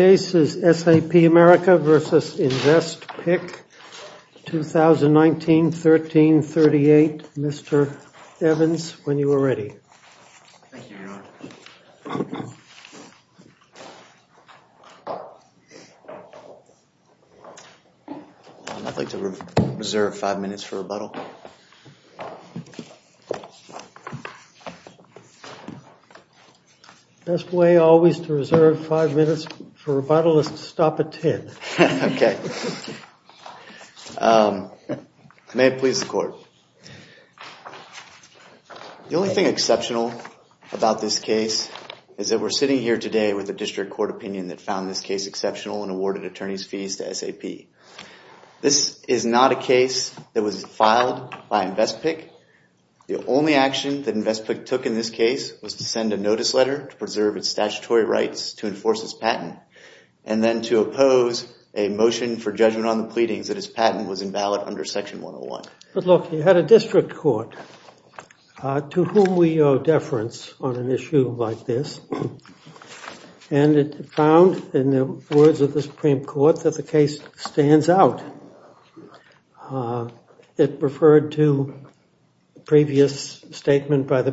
S.A.P. America, Inc. v. InvestPic, LLC 2019-13-38, Mr. Evans, when you are ready. I'd like to reserve five minutes for rebuttal. Best way always to reserve five minutes for rebuttal is to stop at May it please the court. The only thing exceptional about this case is that we're sitting here today with a district court opinion that found this case exceptional and awarded attorneys fees to S.A.P. This is not a case that was filed by InvestPic. The only action that InvestPic took in this case was to send a notice letter to preserve its statutory rights to enforce this patent and then to oppose a motion for judgment on the pleadings that his patent was invalid under section 101. But look, you had a district court to whom we owe deference on an issue like this and it found in the words of the Supreme Court that the case stands out. It referred to previous statement by the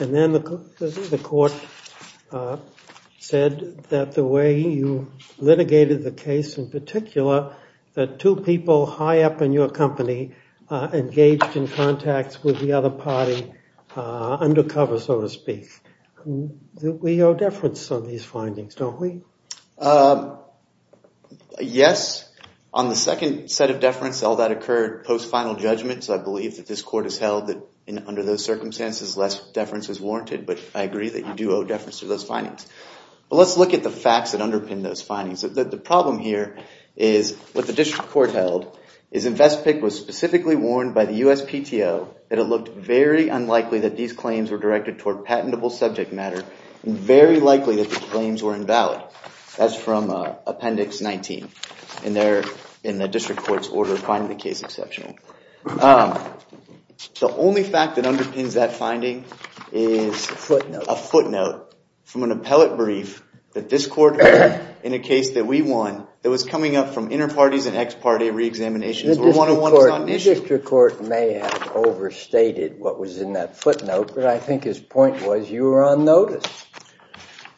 and then the court said that the way you litigated the case in particular that two people high up in your company engaged in contacts with the other party undercover so to speak. We owe deference on these findings, don't we? Yes, on the second set of deference all that occurred post final judgment so I believe that this court has held that under those circumstances less warranted but I agree that you do owe deference to those findings. Let's look at the facts that underpin those findings. The problem here is what the district court held is InvestPic was specifically warned by the USPTO that it looked very unlikely that these claims were directed toward patentable subject matter and very likely that the claims were invalid. That's from appendix 19 in there in the district court's order finding the case exceptional. The only fact that underpins that finding is a footnote from an appellate brief that this court heard in a case that we won that was coming up from inter parties and ex parte re-examinations. The district court may have overstated what was in that footnote but I think his point was you were on notice.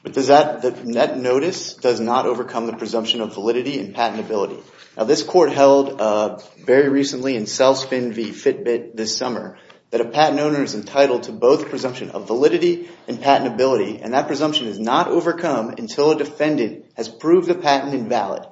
But that notice does not overcome the presumption of validity and patentability. Now this court held very recently in CELSPIN v Fitbit this summer that a patent owner is entitled to both presumption of validity and patentability and that presumption is not overcome until a defendant has proved the patent invalid.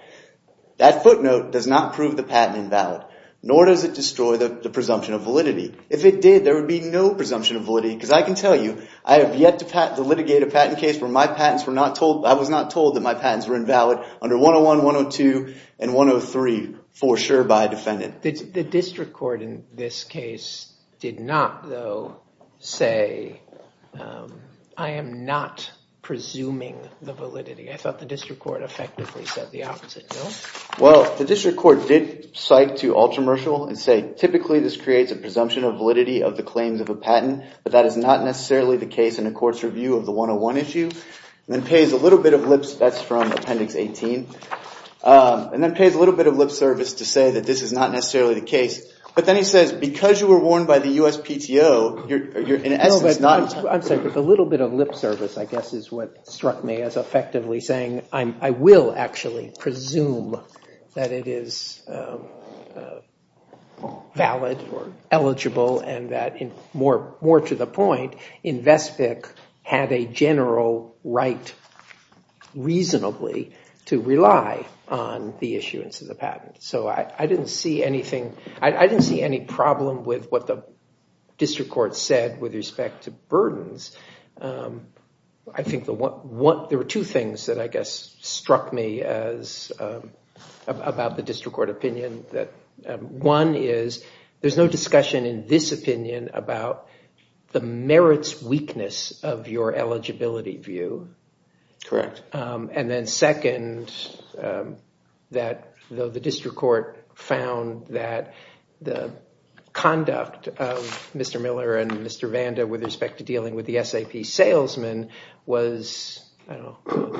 That footnote does not prove the patent invalid nor does it destroy the presumption of validity. If it did there would be no presumption of validity because I can tell you I have yet to litigate a patent case where my patents were not told I was not told that my patents were invalid under 101 102 and 103 for sure by a defendant. The district court in this case did not though say I am not presuming the validity. I thought the district court effectively said the opposite. Well the district court did cite to Ultramershal and say typically this creates a presumption of validity of the claims of a patent but that is not necessarily the case in a court's review of the 101 issue and then pays a little bit of lips that's from appendix 18 and then pays a little bit of lips service to say that this is not necessarily the case but then he says because you were warned by the USPTO you're in essence not entitled. I'm sorry but a little bit of lip service I guess is what struck me as effectively saying I will actually presume that it is valid or eligible and that in more more to the point Invespic had a general right reasonably to rely on the issuance of the patent so I didn't see anything I didn't see any problem with what the district court said with respect to burdens. I think the one what there were two things that I guess struck me as about the district court opinion that one is there's no weakness of your eligibility view correct and then second that though the district court found that the conduct of Mr. Miller and Mr. Vanda with respect to dealing with the SAP salesman was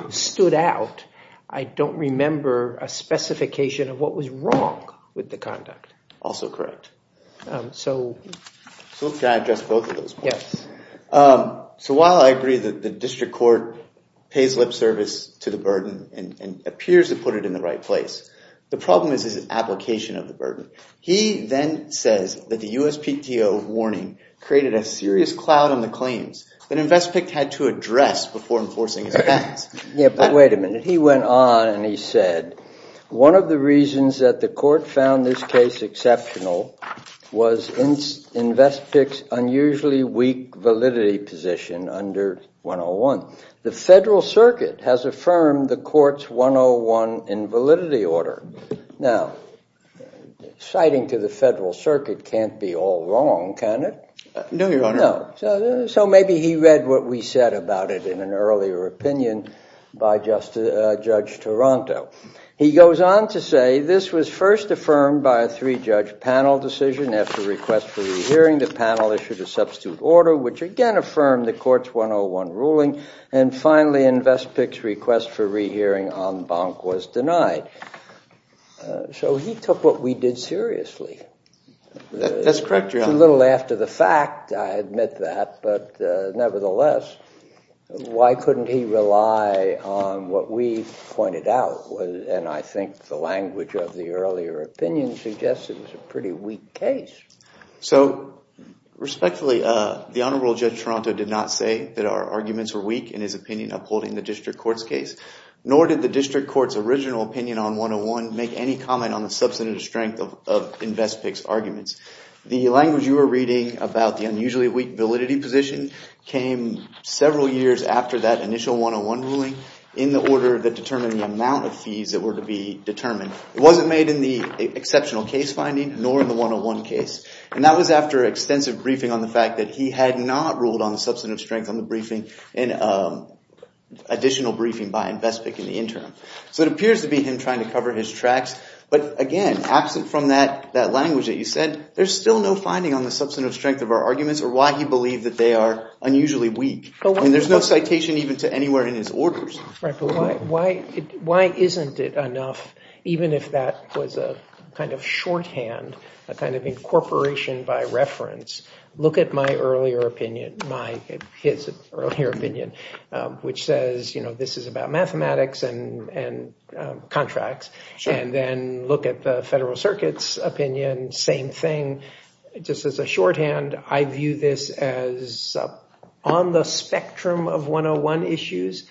stood out I don't remember a specification of what was wrong with the conduct. Also correct. So while I agree that the district court pays lip service to the burden and appears to put it in the right place the problem is his application of the burden. He then says that the USPTO warning created a serious cloud on the claims that Invespic had to address before enforcing his patents. Wait a minute he went on and he said one of the reasons that the court found this case exceptional was Invespic's unusually weak validity position under 101. The Federal Circuit has affirmed the courts 101 in validity order. Now citing to the Federal Circuit can't be all wrong can it? No your honor. So maybe he read what we said about it in an earlier opinion by just a judge Toronto. He goes on to say this was first affirmed by a three-judge panel decision after request for re-hearing the panel issued a substitute order which again affirmed the courts 101 ruling and finally Invespic's request for re-hearing en banc was denied. So he took what we did seriously. That's correct your honor. It's a little after the fact I admit that but nevertheless why couldn't he rely on what we pointed out was and I think the language of the earlier opinion suggests it was a pretty weak case. So respectfully the Honorable Judge Toronto did not say that our arguments were weak in his opinion upholding the district courts case nor did the district courts original opinion on 101 make any comment on the substantive strength of Invespic's arguments. The language you were reading about the validity position came several years after that initial 101 ruling in the order that determined the amount of fees that were to be determined. It wasn't made in the exceptional case finding nor in the 101 case and that was after extensive briefing on the fact that he had not ruled on the substantive strength on the briefing and additional briefing by Invespic in the interim. So it appears to be him trying to cover his tracks but again absent from that language that you said there's still no finding on the substantive strength of our arguments or why he believed that they are unusually weak and there's no citation even to anywhere in his orders. Why isn't it enough even if that was a kind of shorthand a kind of incorporation by reference look at my earlier opinion my earlier opinion which says you know this is about mathematics and and contracts and then look at the Federal Circuit's opinion same thing just as a shorthand I view this as on the spectrum of 101 issues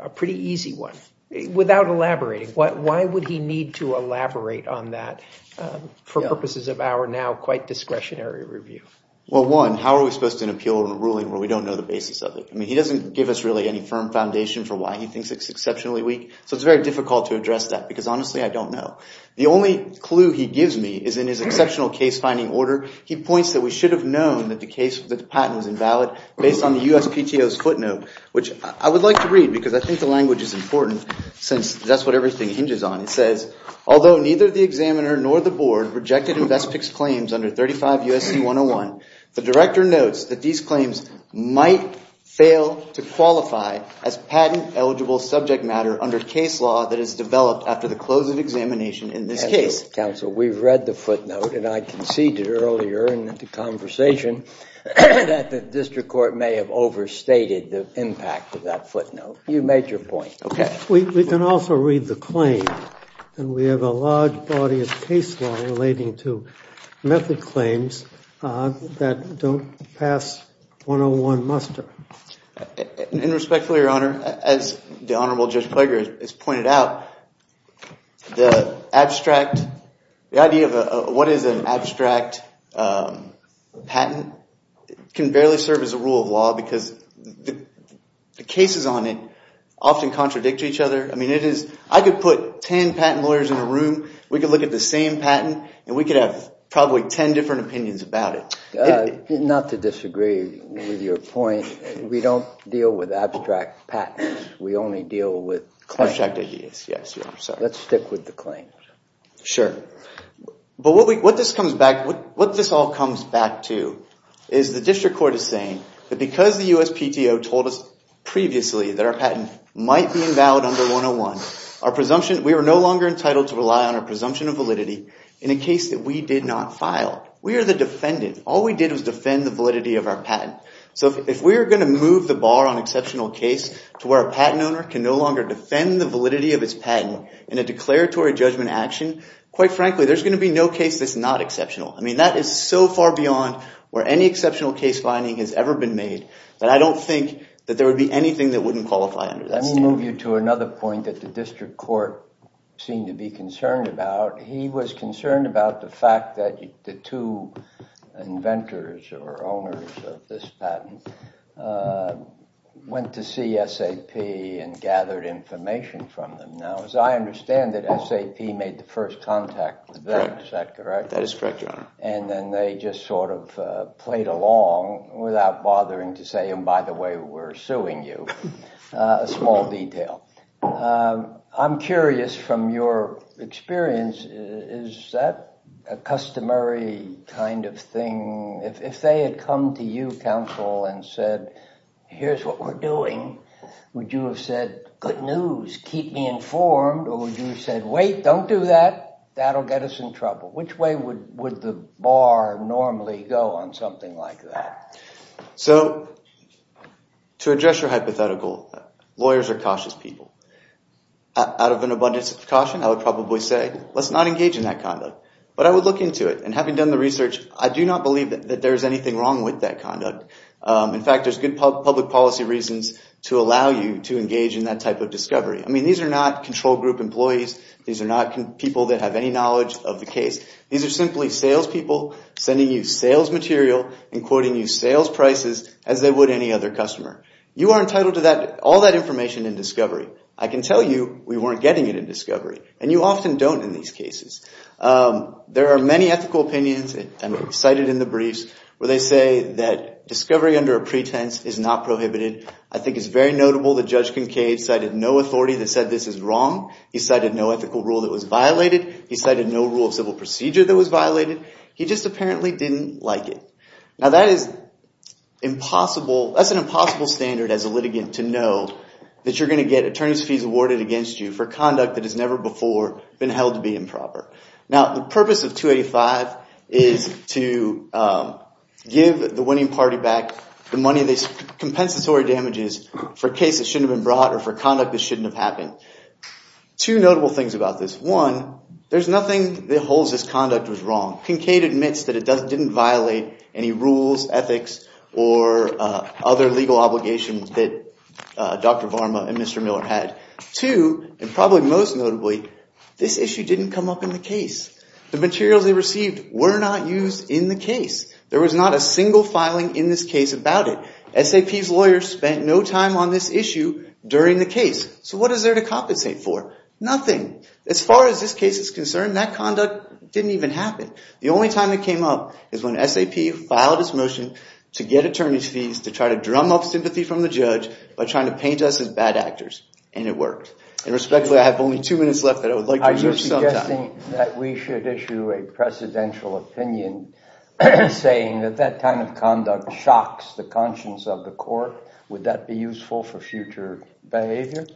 a pretty easy one without elaborating what why would he need to elaborate on that for purposes of our now quite discretionary review? Well one how are we supposed to appeal a ruling where we don't know the basis of it I mean he doesn't give us really any firm foundation for why he thinks it's exceptionally weak so it's very difficult to address that because honestly I don't know. The only clue he gives me is in his exceptional case finding order he points that we should have known that the case that the patent was invalid based on the USPTO's footnote which I would like to read because I think the language is important since that's what everything hinges on it says although neither the examiner nor the board rejected in best-picks claims under 35 USC 101 the director notes that these claims might fail to qualify as patent eligible subject matter under case law that is a closed examination in this case. Counsel we've read the footnote and I conceded earlier in the conversation that the district court may have overstated the impact of that footnote you made your point. Okay we can also read the claim and we have a large body of case law relating to method claims that don't pass 101 muster. And respectfully your honor as the the abstract the idea of what is an abstract patent can barely serve as a rule of law because the cases on it often contradict each other I mean it is I could put ten patent lawyers in a room we could look at the same patent and we could have probably ten different opinions about it. Not to disagree with your point we don't deal with abstract patents we only deal with abstract ideas. Let's stick with the claim. Sure but what this comes back what this all comes back to is the district court is saying that because the USPTO told us previously that our patent might be invalid under 101 our presumption we were no longer entitled to rely on our presumption of validity in a case that we did not file. We are the defendant all we did was defend the validity of our patent so if we were going to move the bar on exceptional case to where a patent in a declaratory judgment action quite frankly there's going to be no case that's not exceptional. I mean that is so far beyond where any exceptional case finding has ever been made that I don't think that there would be anything that wouldn't qualify under that standard. Let me move you to another point that the district court seemed to be concerned about. He was concerned about the fact that the two inventors or owners of this patent went to see SAP and gathered information from them. Now as I understand that SAP made the first contact with them is that correct? That is correct your honor. And then they just sort of played along without bothering to say and by the way we're suing you a small detail. I'm curious from your experience is that a customary kind of thing if they had come to you counsel and said here's what we're doing would you have said good news keep me informed or would you have said wait don't do that that'll get us in trouble. Which way would the bar normally go on something like that? So to address your hypothetical lawyers are cautious people. Out of an abundance of caution I would probably say let's not engage in that conduct but I would look into it and having done the research I do not believe that there's anything wrong with that conduct. In fact there's good public policy reasons to allow you to engage in that type of discovery. I mean these are not control group employees. These are not people that have any knowledge of the case. These are simply salespeople sending you sales material and quoting you sales prices as they would any other customer. You are entitled to that all that information in discovery. I can tell you we weren't getting it in discovery and you often don't in these cases. There are many ethical opinions and cited in the briefs where they say that discovery under a pretense is not prohibited. I think it's very notable that Judge Kincaid cited no authority that said this is wrong. He cited no ethical rule that was violated. He cited no rule of civil procedure that was violated. He just apparently didn't like it. Now that is impossible. That's an impossible standard as a litigant to know that you're going to get attorney's fees awarded against you for conduct that has never before been held to be improper. Now the purpose of 285 is to give the winning party back the money compensatory damages for cases that shouldn't have been brought or for conduct that shouldn't have happened. Two notable things about this. One, there's nothing that holds this conduct was wrong. Kincaid admits that it didn't violate any rules, ethics, or other legal obligations that Dr. Varma and Mr. Miller had. Two, and probably most notably, this issue didn't come up in the case. The materials they received were not used in the case. There was not a single filing in this case about it. SAP's lawyers spent no time on this issue during the case. So what is there to compensate for? Nothing. As far as this case is concerned, that conduct didn't even happen. The only time it came up is when SAP filed its motion to get attorney's fees to try to drum up sympathy from the judge by trying to paint us as bad actors. And it worked. And respectfully, I have only two minutes left that I would like to reserve some time. I'm suggesting that we should issue a motion that shocks the conscience of the court. Would that be useful for future behavior?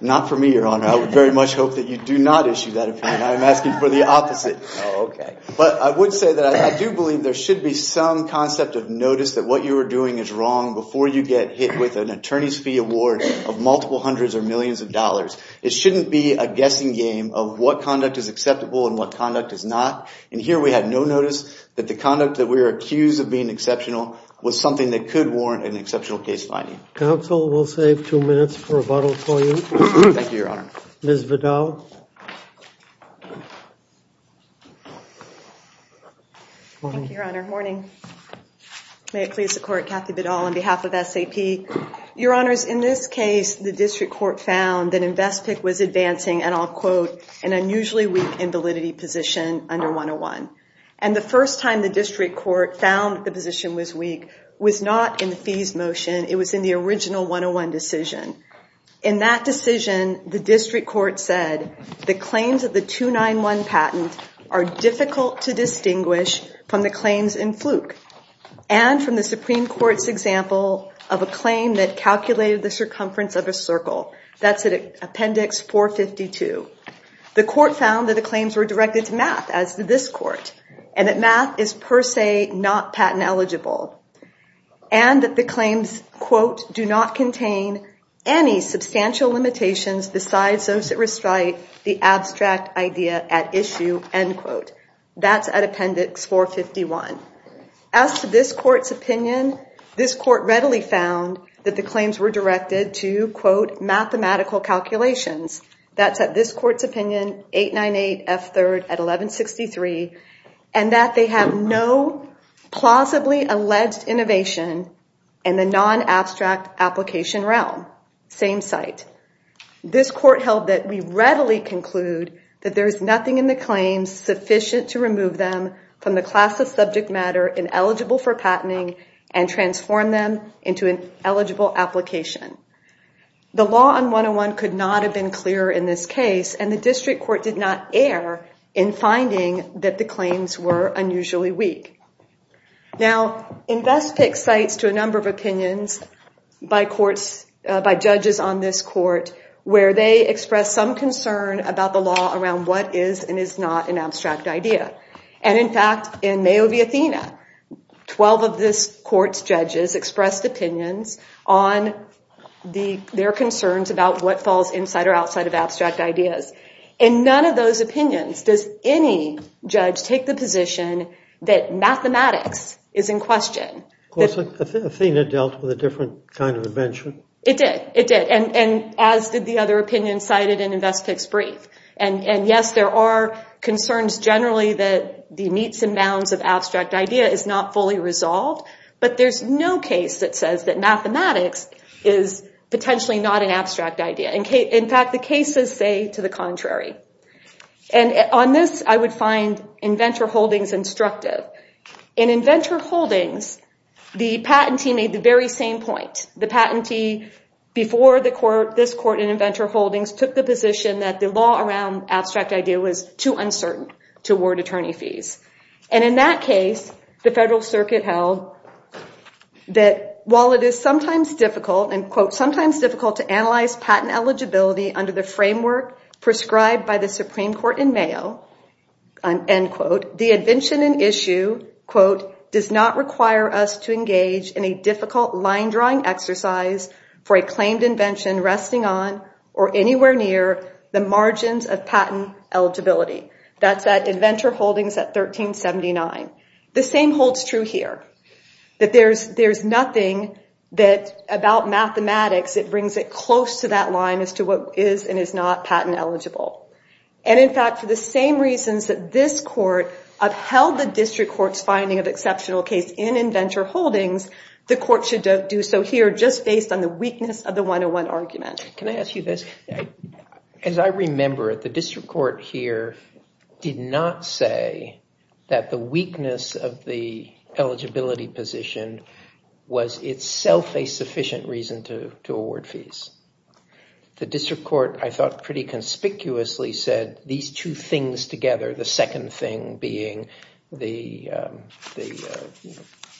Not for me, Your Honor. I would very much hope that you do not issue that opinion. I'm asking for the opposite. Okay. But I would say that I do believe there should be some concept of notice that what you were doing is wrong before you get hit with an attorney's fee award of multiple hundreds or millions of dollars. It shouldn't be a guessing game of what conduct is acceptable and what conduct is not. And here we had no notice that the conduct that we were accused of being exceptional was something that could warrant an exceptional case finding. Counsel, we'll save two minutes for rebuttal for you. Thank you, Your Honor. Ms. Vidal. Thank you, Your Honor. Morning. May it please the Court, Kathy Vidal on behalf of SAP. Your Honors, in this case, the district court found that Investpick was advancing, and I'll quote, an unusually weak invalidity position under 101. And the first time the district court found the position was weak was not in the fees motion. It was in the original 101 decision. In that decision, the district court said the claims of the 291 patent are difficult to distinguish from the claims in Fluke and from the Supreme Court's example of a claim that calculated the circumference of a circle. That's at Appendix 452. The court found that the claims were directed to math, as did this court, and that math is per se not patent eligible. And that the claims, quote, do not contain any substantial limitations besides those that restrict the abstract idea at issue, end quote. That's at Appendix 451. As to this court's opinion, this court readily found that the claims were directed to, quote, mathematical calculations. That's at this 1163, and that they have no plausibly alleged innovation in the non-abstract application realm. Same site. This court held that we readily conclude that there is nothing in the claims sufficient to remove them from the class of subject matter ineligible for patenting and transform them into an eligible application. The law on 101 could not have been clearer in this case, and the district court did not err in finding that the claims were unusually weak. Now, InVEST picks sites to a number of opinions by courts, by judges on this court, where they express some concern about the law around what is and is not an abstract idea. And in fact, in Mayo v. Athena, 12 of this court's judges expressed opinions on their concerns about what falls inside or outside of In none of those opinions does any judge take the position that mathematics is in question. Of course, Athena dealt with a different kind of invention. It did. It did. And as did the other opinion cited in InVEST picks brief. And yes, there are concerns generally that the meets and bounds of abstract idea is not fully resolved, but there's no case that says that mathematics is potentially not an contrary. And on this, I would find InVENTOR Holdings instructive. In InVENTOR Holdings, the patentee made the very same point. The patentee before this court in InVENTOR Holdings took the position that the law around abstract idea was too uncertain to award attorney fees. And in that case, the Federal Circuit held that while it is sometimes difficult, and quote, sometimes difficult to analyze patent eligibility under the framework prescribed by the Supreme Court in Mayo, end quote, the invention and issue, quote, does not require us to engage in a difficult line drawing exercise for a claimed invention resting on or anywhere near the margins of patent eligibility. That's at InVENTOR Holdings at 1379. The same holds true here. That there's nothing that about mathematics that brings it close to that line as to what is and is not patent eligible. And in fact, for the same reasons that this court upheld the district court's finding of exceptional case in InVENTOR Holdings, the court should do so here just based on the weakness of the 101 argument. Can I ask you this? As I remember it, the district court here did not say that the weakness of the eligibility position was itself a sufficient reason to award fees. The district court, I thought, pretty conspicuously said these two things together, the second thing being the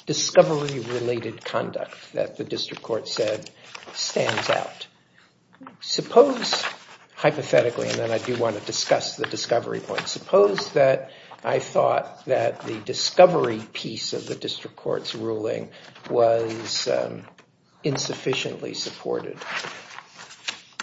discovery-related conduct that the district court said stands out. Suppose, hypothetically, and then I do want to say that the discovery piece of the district court's ruling was insufficiently supported.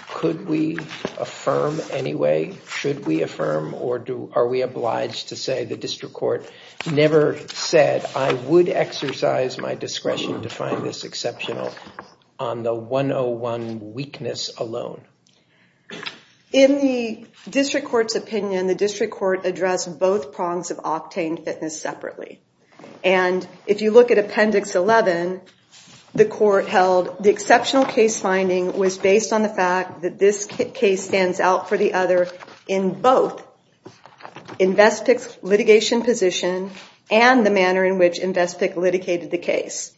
Could we affirm anyway? Should we affirm? Or are we obliged to say the district court never said, I would exercise my discretion to find this exceptional on the 101 weakness alone? In the district court's opinion, the And if you look at Appendix 11, the court held the exceptional case finding was based on the fact that this case stands out for the other in both InVESTPIC's litigation position and the manner in which InVESTPIC litigated the case.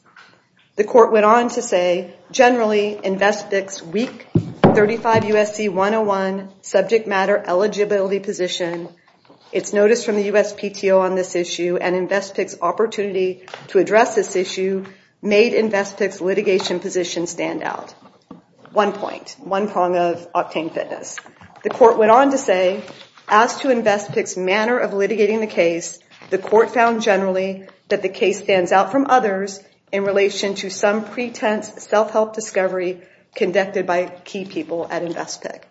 The court went on to say, generally, InVESTPIC's week 35 USC 101 subject matter eligibility position, its notice from the USPTO on this issue, and InVESTPIC's opportunity to address this issue made InVESTPIC's litigation position stand out. One point, one prong of Octane Fitness. The court went on to say, as to InVESTPIC's manner of litigating the case, the court found generally that the case stands out from others in relation to some pretense self-help discovery conducted by key people at InVESTPIC.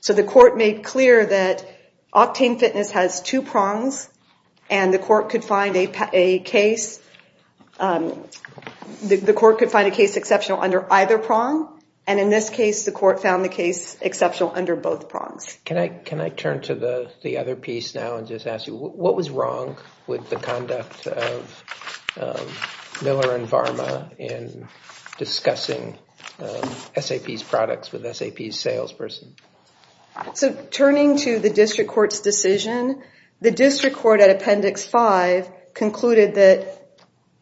So the court made clear that Octane Fitness has two prongs and the court could find a case the court could find a case exceptional under either prong and in this case the court found the case exceptional under both prongs. Can I turn to the the other piece now and just ask you, what was wrong with the conduct of Miller and Varma in discussing SAP's products with SAP's salesperson? So returning to the district court's decision, the district court at Appendix 5 concluded that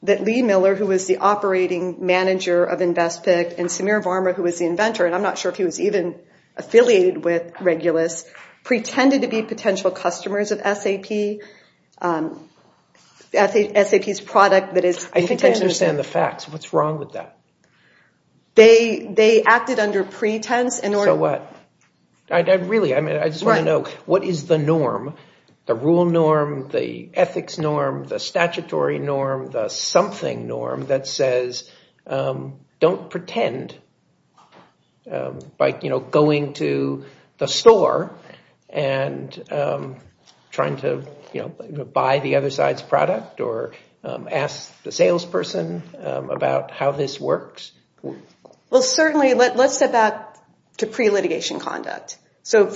that Lee Miller, who was the operating manager of InVESTPIC, and Samir Varma, who was the inventor, and I'm not sure if he was even affiliated with Regulus, pretended to be potential customers of SAP's product. I think I understand the facts. What's wrong with that? They acted under pretense in order... So what? I really, I mean, I just want to know, what is the norm, the rule norm, the ethics norm, the statutory norm, the something norm, that says don't pretend by, you know, going to the store and trying to, you know, buy the other side's product or ask the salesperson about how this works? Well, certainly, let's step back to pre-litigation conduct. So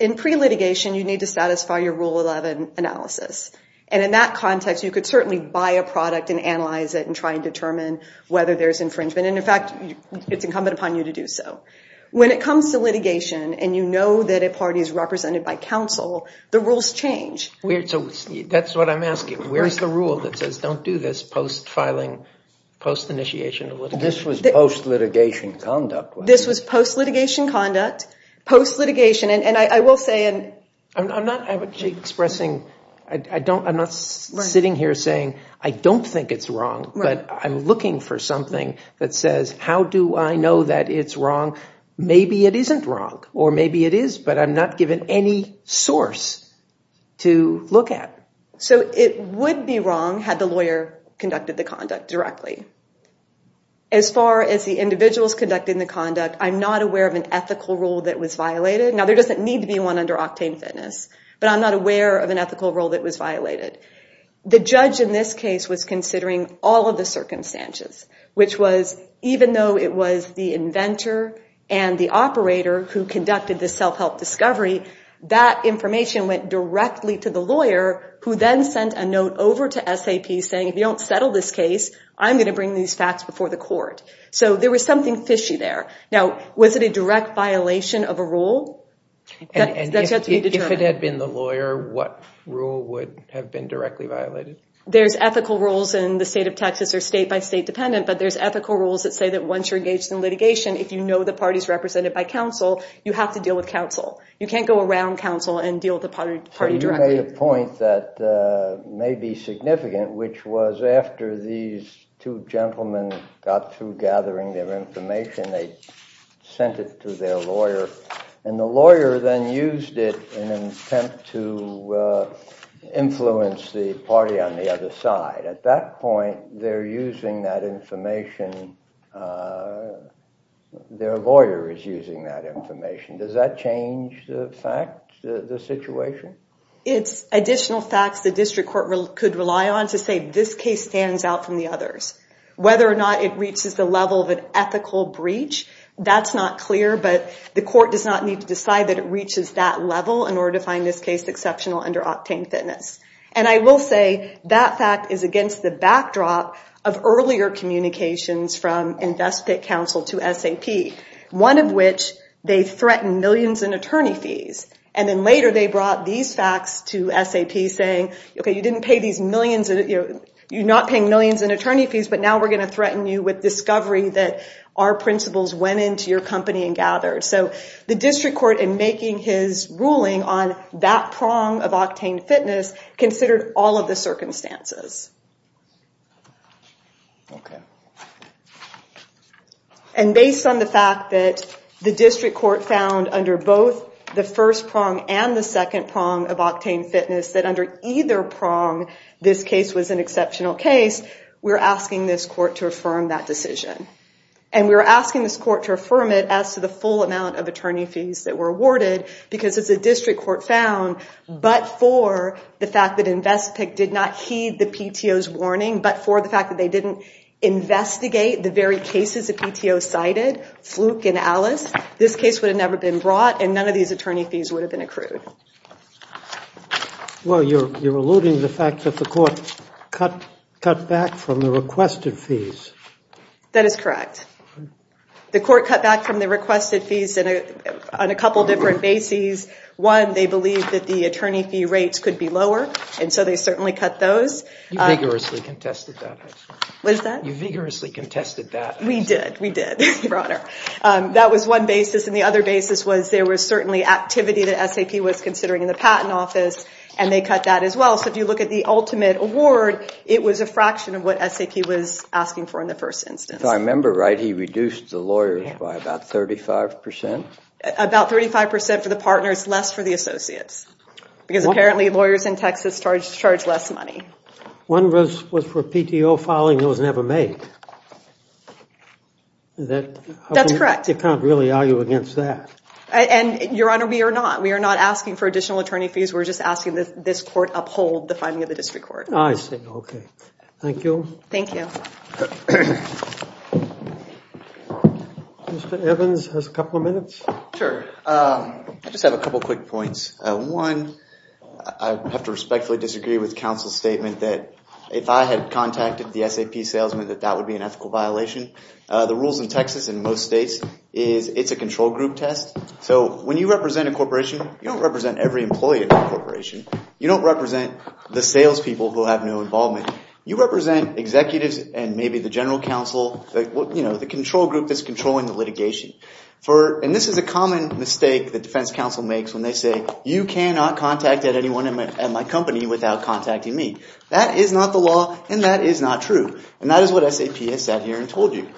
in pre-litigation, you need to satisfy your Rule 11 analysis. And in that context, you could certainly buy a product and analyze it and try and determine whether there's infringement. And in fact, it's incumbent upon you to do so. When it comes to litigation, and you know that a party is represented by counsel, the rules change. So that's what I'm asking. Where's the rule that says don't do this post-filing, post-initiation? This was post-litigation conduct. This was post-litigation conduct, post-litigation, and I will say... I'm not expressing, I don't, I'm not sitting here saying I don't think it's wrong, but I'm looking for something that says how do I know that it's wrong? Maybe it isn't wrong, or maybe it is, but I'm not given any source to look at. So it would be wrong had the lawyer conducted the conduct directly. As far as the individuals conducting the conduct, I'm not aware of an ethical rule that was violated. Now there doesn't need to be one under Octane Fitness, but I'm not aware of an ethical rule that was violated. The judge in this case was considering all of the circumstances, which was even though it was the inventor and the operator who conducted this self-help discovery, that if you don't settle this case, I'm going to bring these facts before the court. So there was something fishy there. Now was it a direct violation of a rule? If it had been the lawyer, what rule would have been directly violated? There's ethical rules in the state of Texas or state by state dependent, but there's ethical rules that say that once you're engaged in litigation, if you know the party's represented by counsel, you have to deal with counsel. You can't go around counsel and deal with the party directly. So you made a point that may be significant, which was after these two gentlemen got through gathering their information, they sent it to their lawyer and the lawyer then used it in an attempt to influence the party on the other side. At that point, they're using that information, their lawyer is using that information. Does that change the fact, the situation? It's additional facts the district court could rely on to say this case stands out from the others. Whether or not it reaches the level of an ethical breach, that's not clear, but the court does not need to decide that it reaches that level in order to find this case exceptional under octane fitness. And I will say that fact is against the backdrop of earlier communications from investment counsel to SAP, one of which they threatened millions in attorney fees. And then later they brought these facts to SAP saying, okay, you didn't pay these millions, you're not paying millions in attorney fees, but now we're going to threaten you with discovery that our principals went into your company and gathered. So the district court in making his ruling on that prong of octane fitness considered all of the circumstances. And based on the fact that the district court found under both the first prong and the second prong of octane fitness that under either prong, this case was an exceptional case, we're asking this court to affirm that decision. And we're asking this court to affirm it as to the full amount of attorney fees that were awarded, because it's a district court found, but for the fact that InvestPIC did not heed the PTO's warning, but for the fact that they didn't investigate the very cases the PTO cited, Fluke and Alice, this case would have never been brought and none of these attorney fees would have been accrued. Well, you're alluding to the fact that the court cut back from the requested fees. That is correct. The court cut back from the requested fees on a couple different bases. One, they believed that the attorney fee rates could be lower, and so they certainly cut those. You vigorously contested that. We did, we did, your honor. That was one basis, and the other basis was there was certainly activity that SAP was considering in the patent office, and they cut that as well. So if you look at the ultimate award, it was a fraction of what SAP was asking for in the first instance. I remember, right, he reduced the lawyers by about 35 percent? About 35 percent for the partners, less for the associates, because apparently lawyers in the first instance, it was less money. One was for PTO filing, it was never made. That's correct. You can't really argue against that. And, your honor, we are not. We are not asking for additional attorney fees. We're just asking that this court uphold the finding of the district court. I see, okay. Thank you. Thank you. Mr. Evans has a couple of minutes. Sure. I just have a couple quick points. One, I have to respectfully disagree with counsel's statement that if I had contacted the SAP salesman that that would be an ethical violation. The rules in Texas, in most states, is it's a control group test. So when you represent a corporation, you don't represent every employee of the corporation. You don't represent the salespeople who have no involvement. You represent executives and maybe the general counsel, you know, the control group that's controlling the litigation. And this is a common mistake that defense counsel makes when they say, you cannot contact anyone at my company without contacting me. That is not the law and that is not true. And that is what SAP has said here and told you.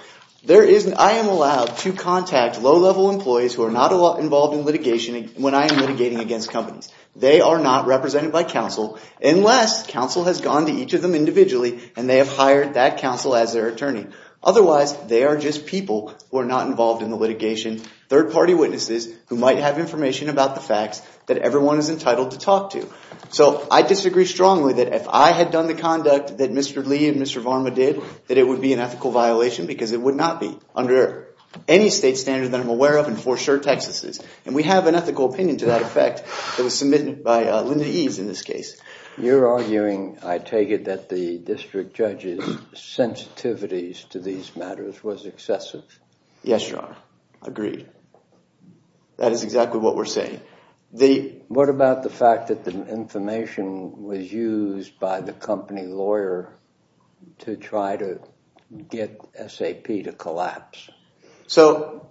I am allowed to contact low-level employees who are not involved in litigation when I am litigating against companies. They are not represented by counsel unless counsel has gone to each of them individually and they have hired that counsel as their attorney. Otherwise, they are just people who are not involved in litigation. I have information about the facts that everyone is entitled to talk to. So I disagree strongly that if I had done the conduct that Mr. Lee and Mr. Varma did, that it would be an ethical violation because it would not be under any state standard that I'm aware of and for sure Texas is. And we have an ethical opinion to that effect that was submitted by Linda Eves in this case. You're arguing, I take it, that the district judge's sensitivities to these agreed. That is exactly what we're saying. What about the fact that the information was used by the company lawyer to try to get SAP to collapse? So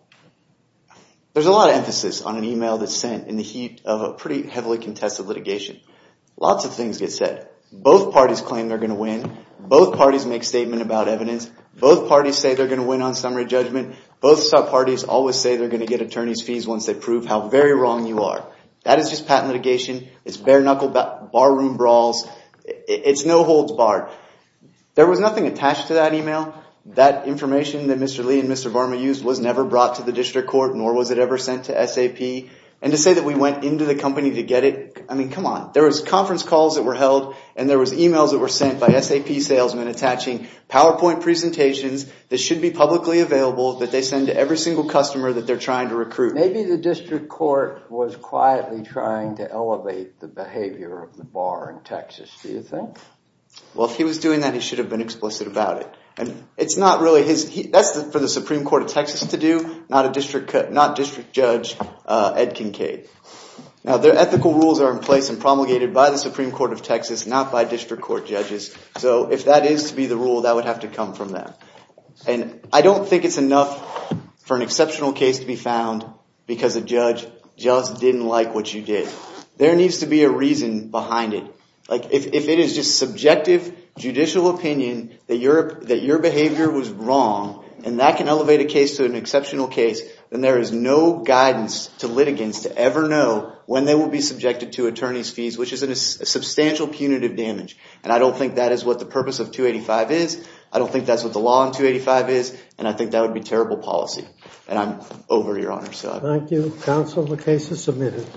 there's a lot of emphasis on an email that's sent in the heat of a pretty heavily contested litigation. Lots of things get said. Both parties claim they're going to win. Both parties make statement about evidence. Both parties say they're going to win on summary judgment. Both sub-parties always say they're going to get attorney's fees once they prove how very wrong you are. That is just patent litigation. It's bare-knuckle barroom brawls. It's no holds barred. There was nothing attached to that email. That information that Mr. Lee and Mr. Varma used was never brought to the district court nor was it ever sent to SAP. And to say that we went into the company to get it, I mean, come on. There was conference calls that were held and there was emails that were sent by should be publicly available that they send to every single customer that they're trying to recruit. Maybe the district court was quietly trying to elevate the behavior of the bar in Texas, do you think? Well, if he was doing that, he should have been explicit about it. And it's not really his, that's for the Supreme Court of Texas to do, not district judge Ed Kincaid. Now, their ethical rules are in place and promulgated by the Supreme Court of Texas, not by district court judges. So if that is to be the rule, that would have to come from them. And I don't think it's enough for an exceptional case to be found because the judge just didn't like what you did. There needs to be a reason behind it. Like, if it is just subjective judicial opinion that your that your behavior was wrong and that can elevate a case to an exceptional case, then there is no guidance to litigants to ever know when they will be subjected to attorney's fees, which is a substantial punitive damage. And I don't think that's what the law in 285 is, and I think that would be terrible policy. And I'm over, Your Honor. Thank you. Counsel, the case is submitted.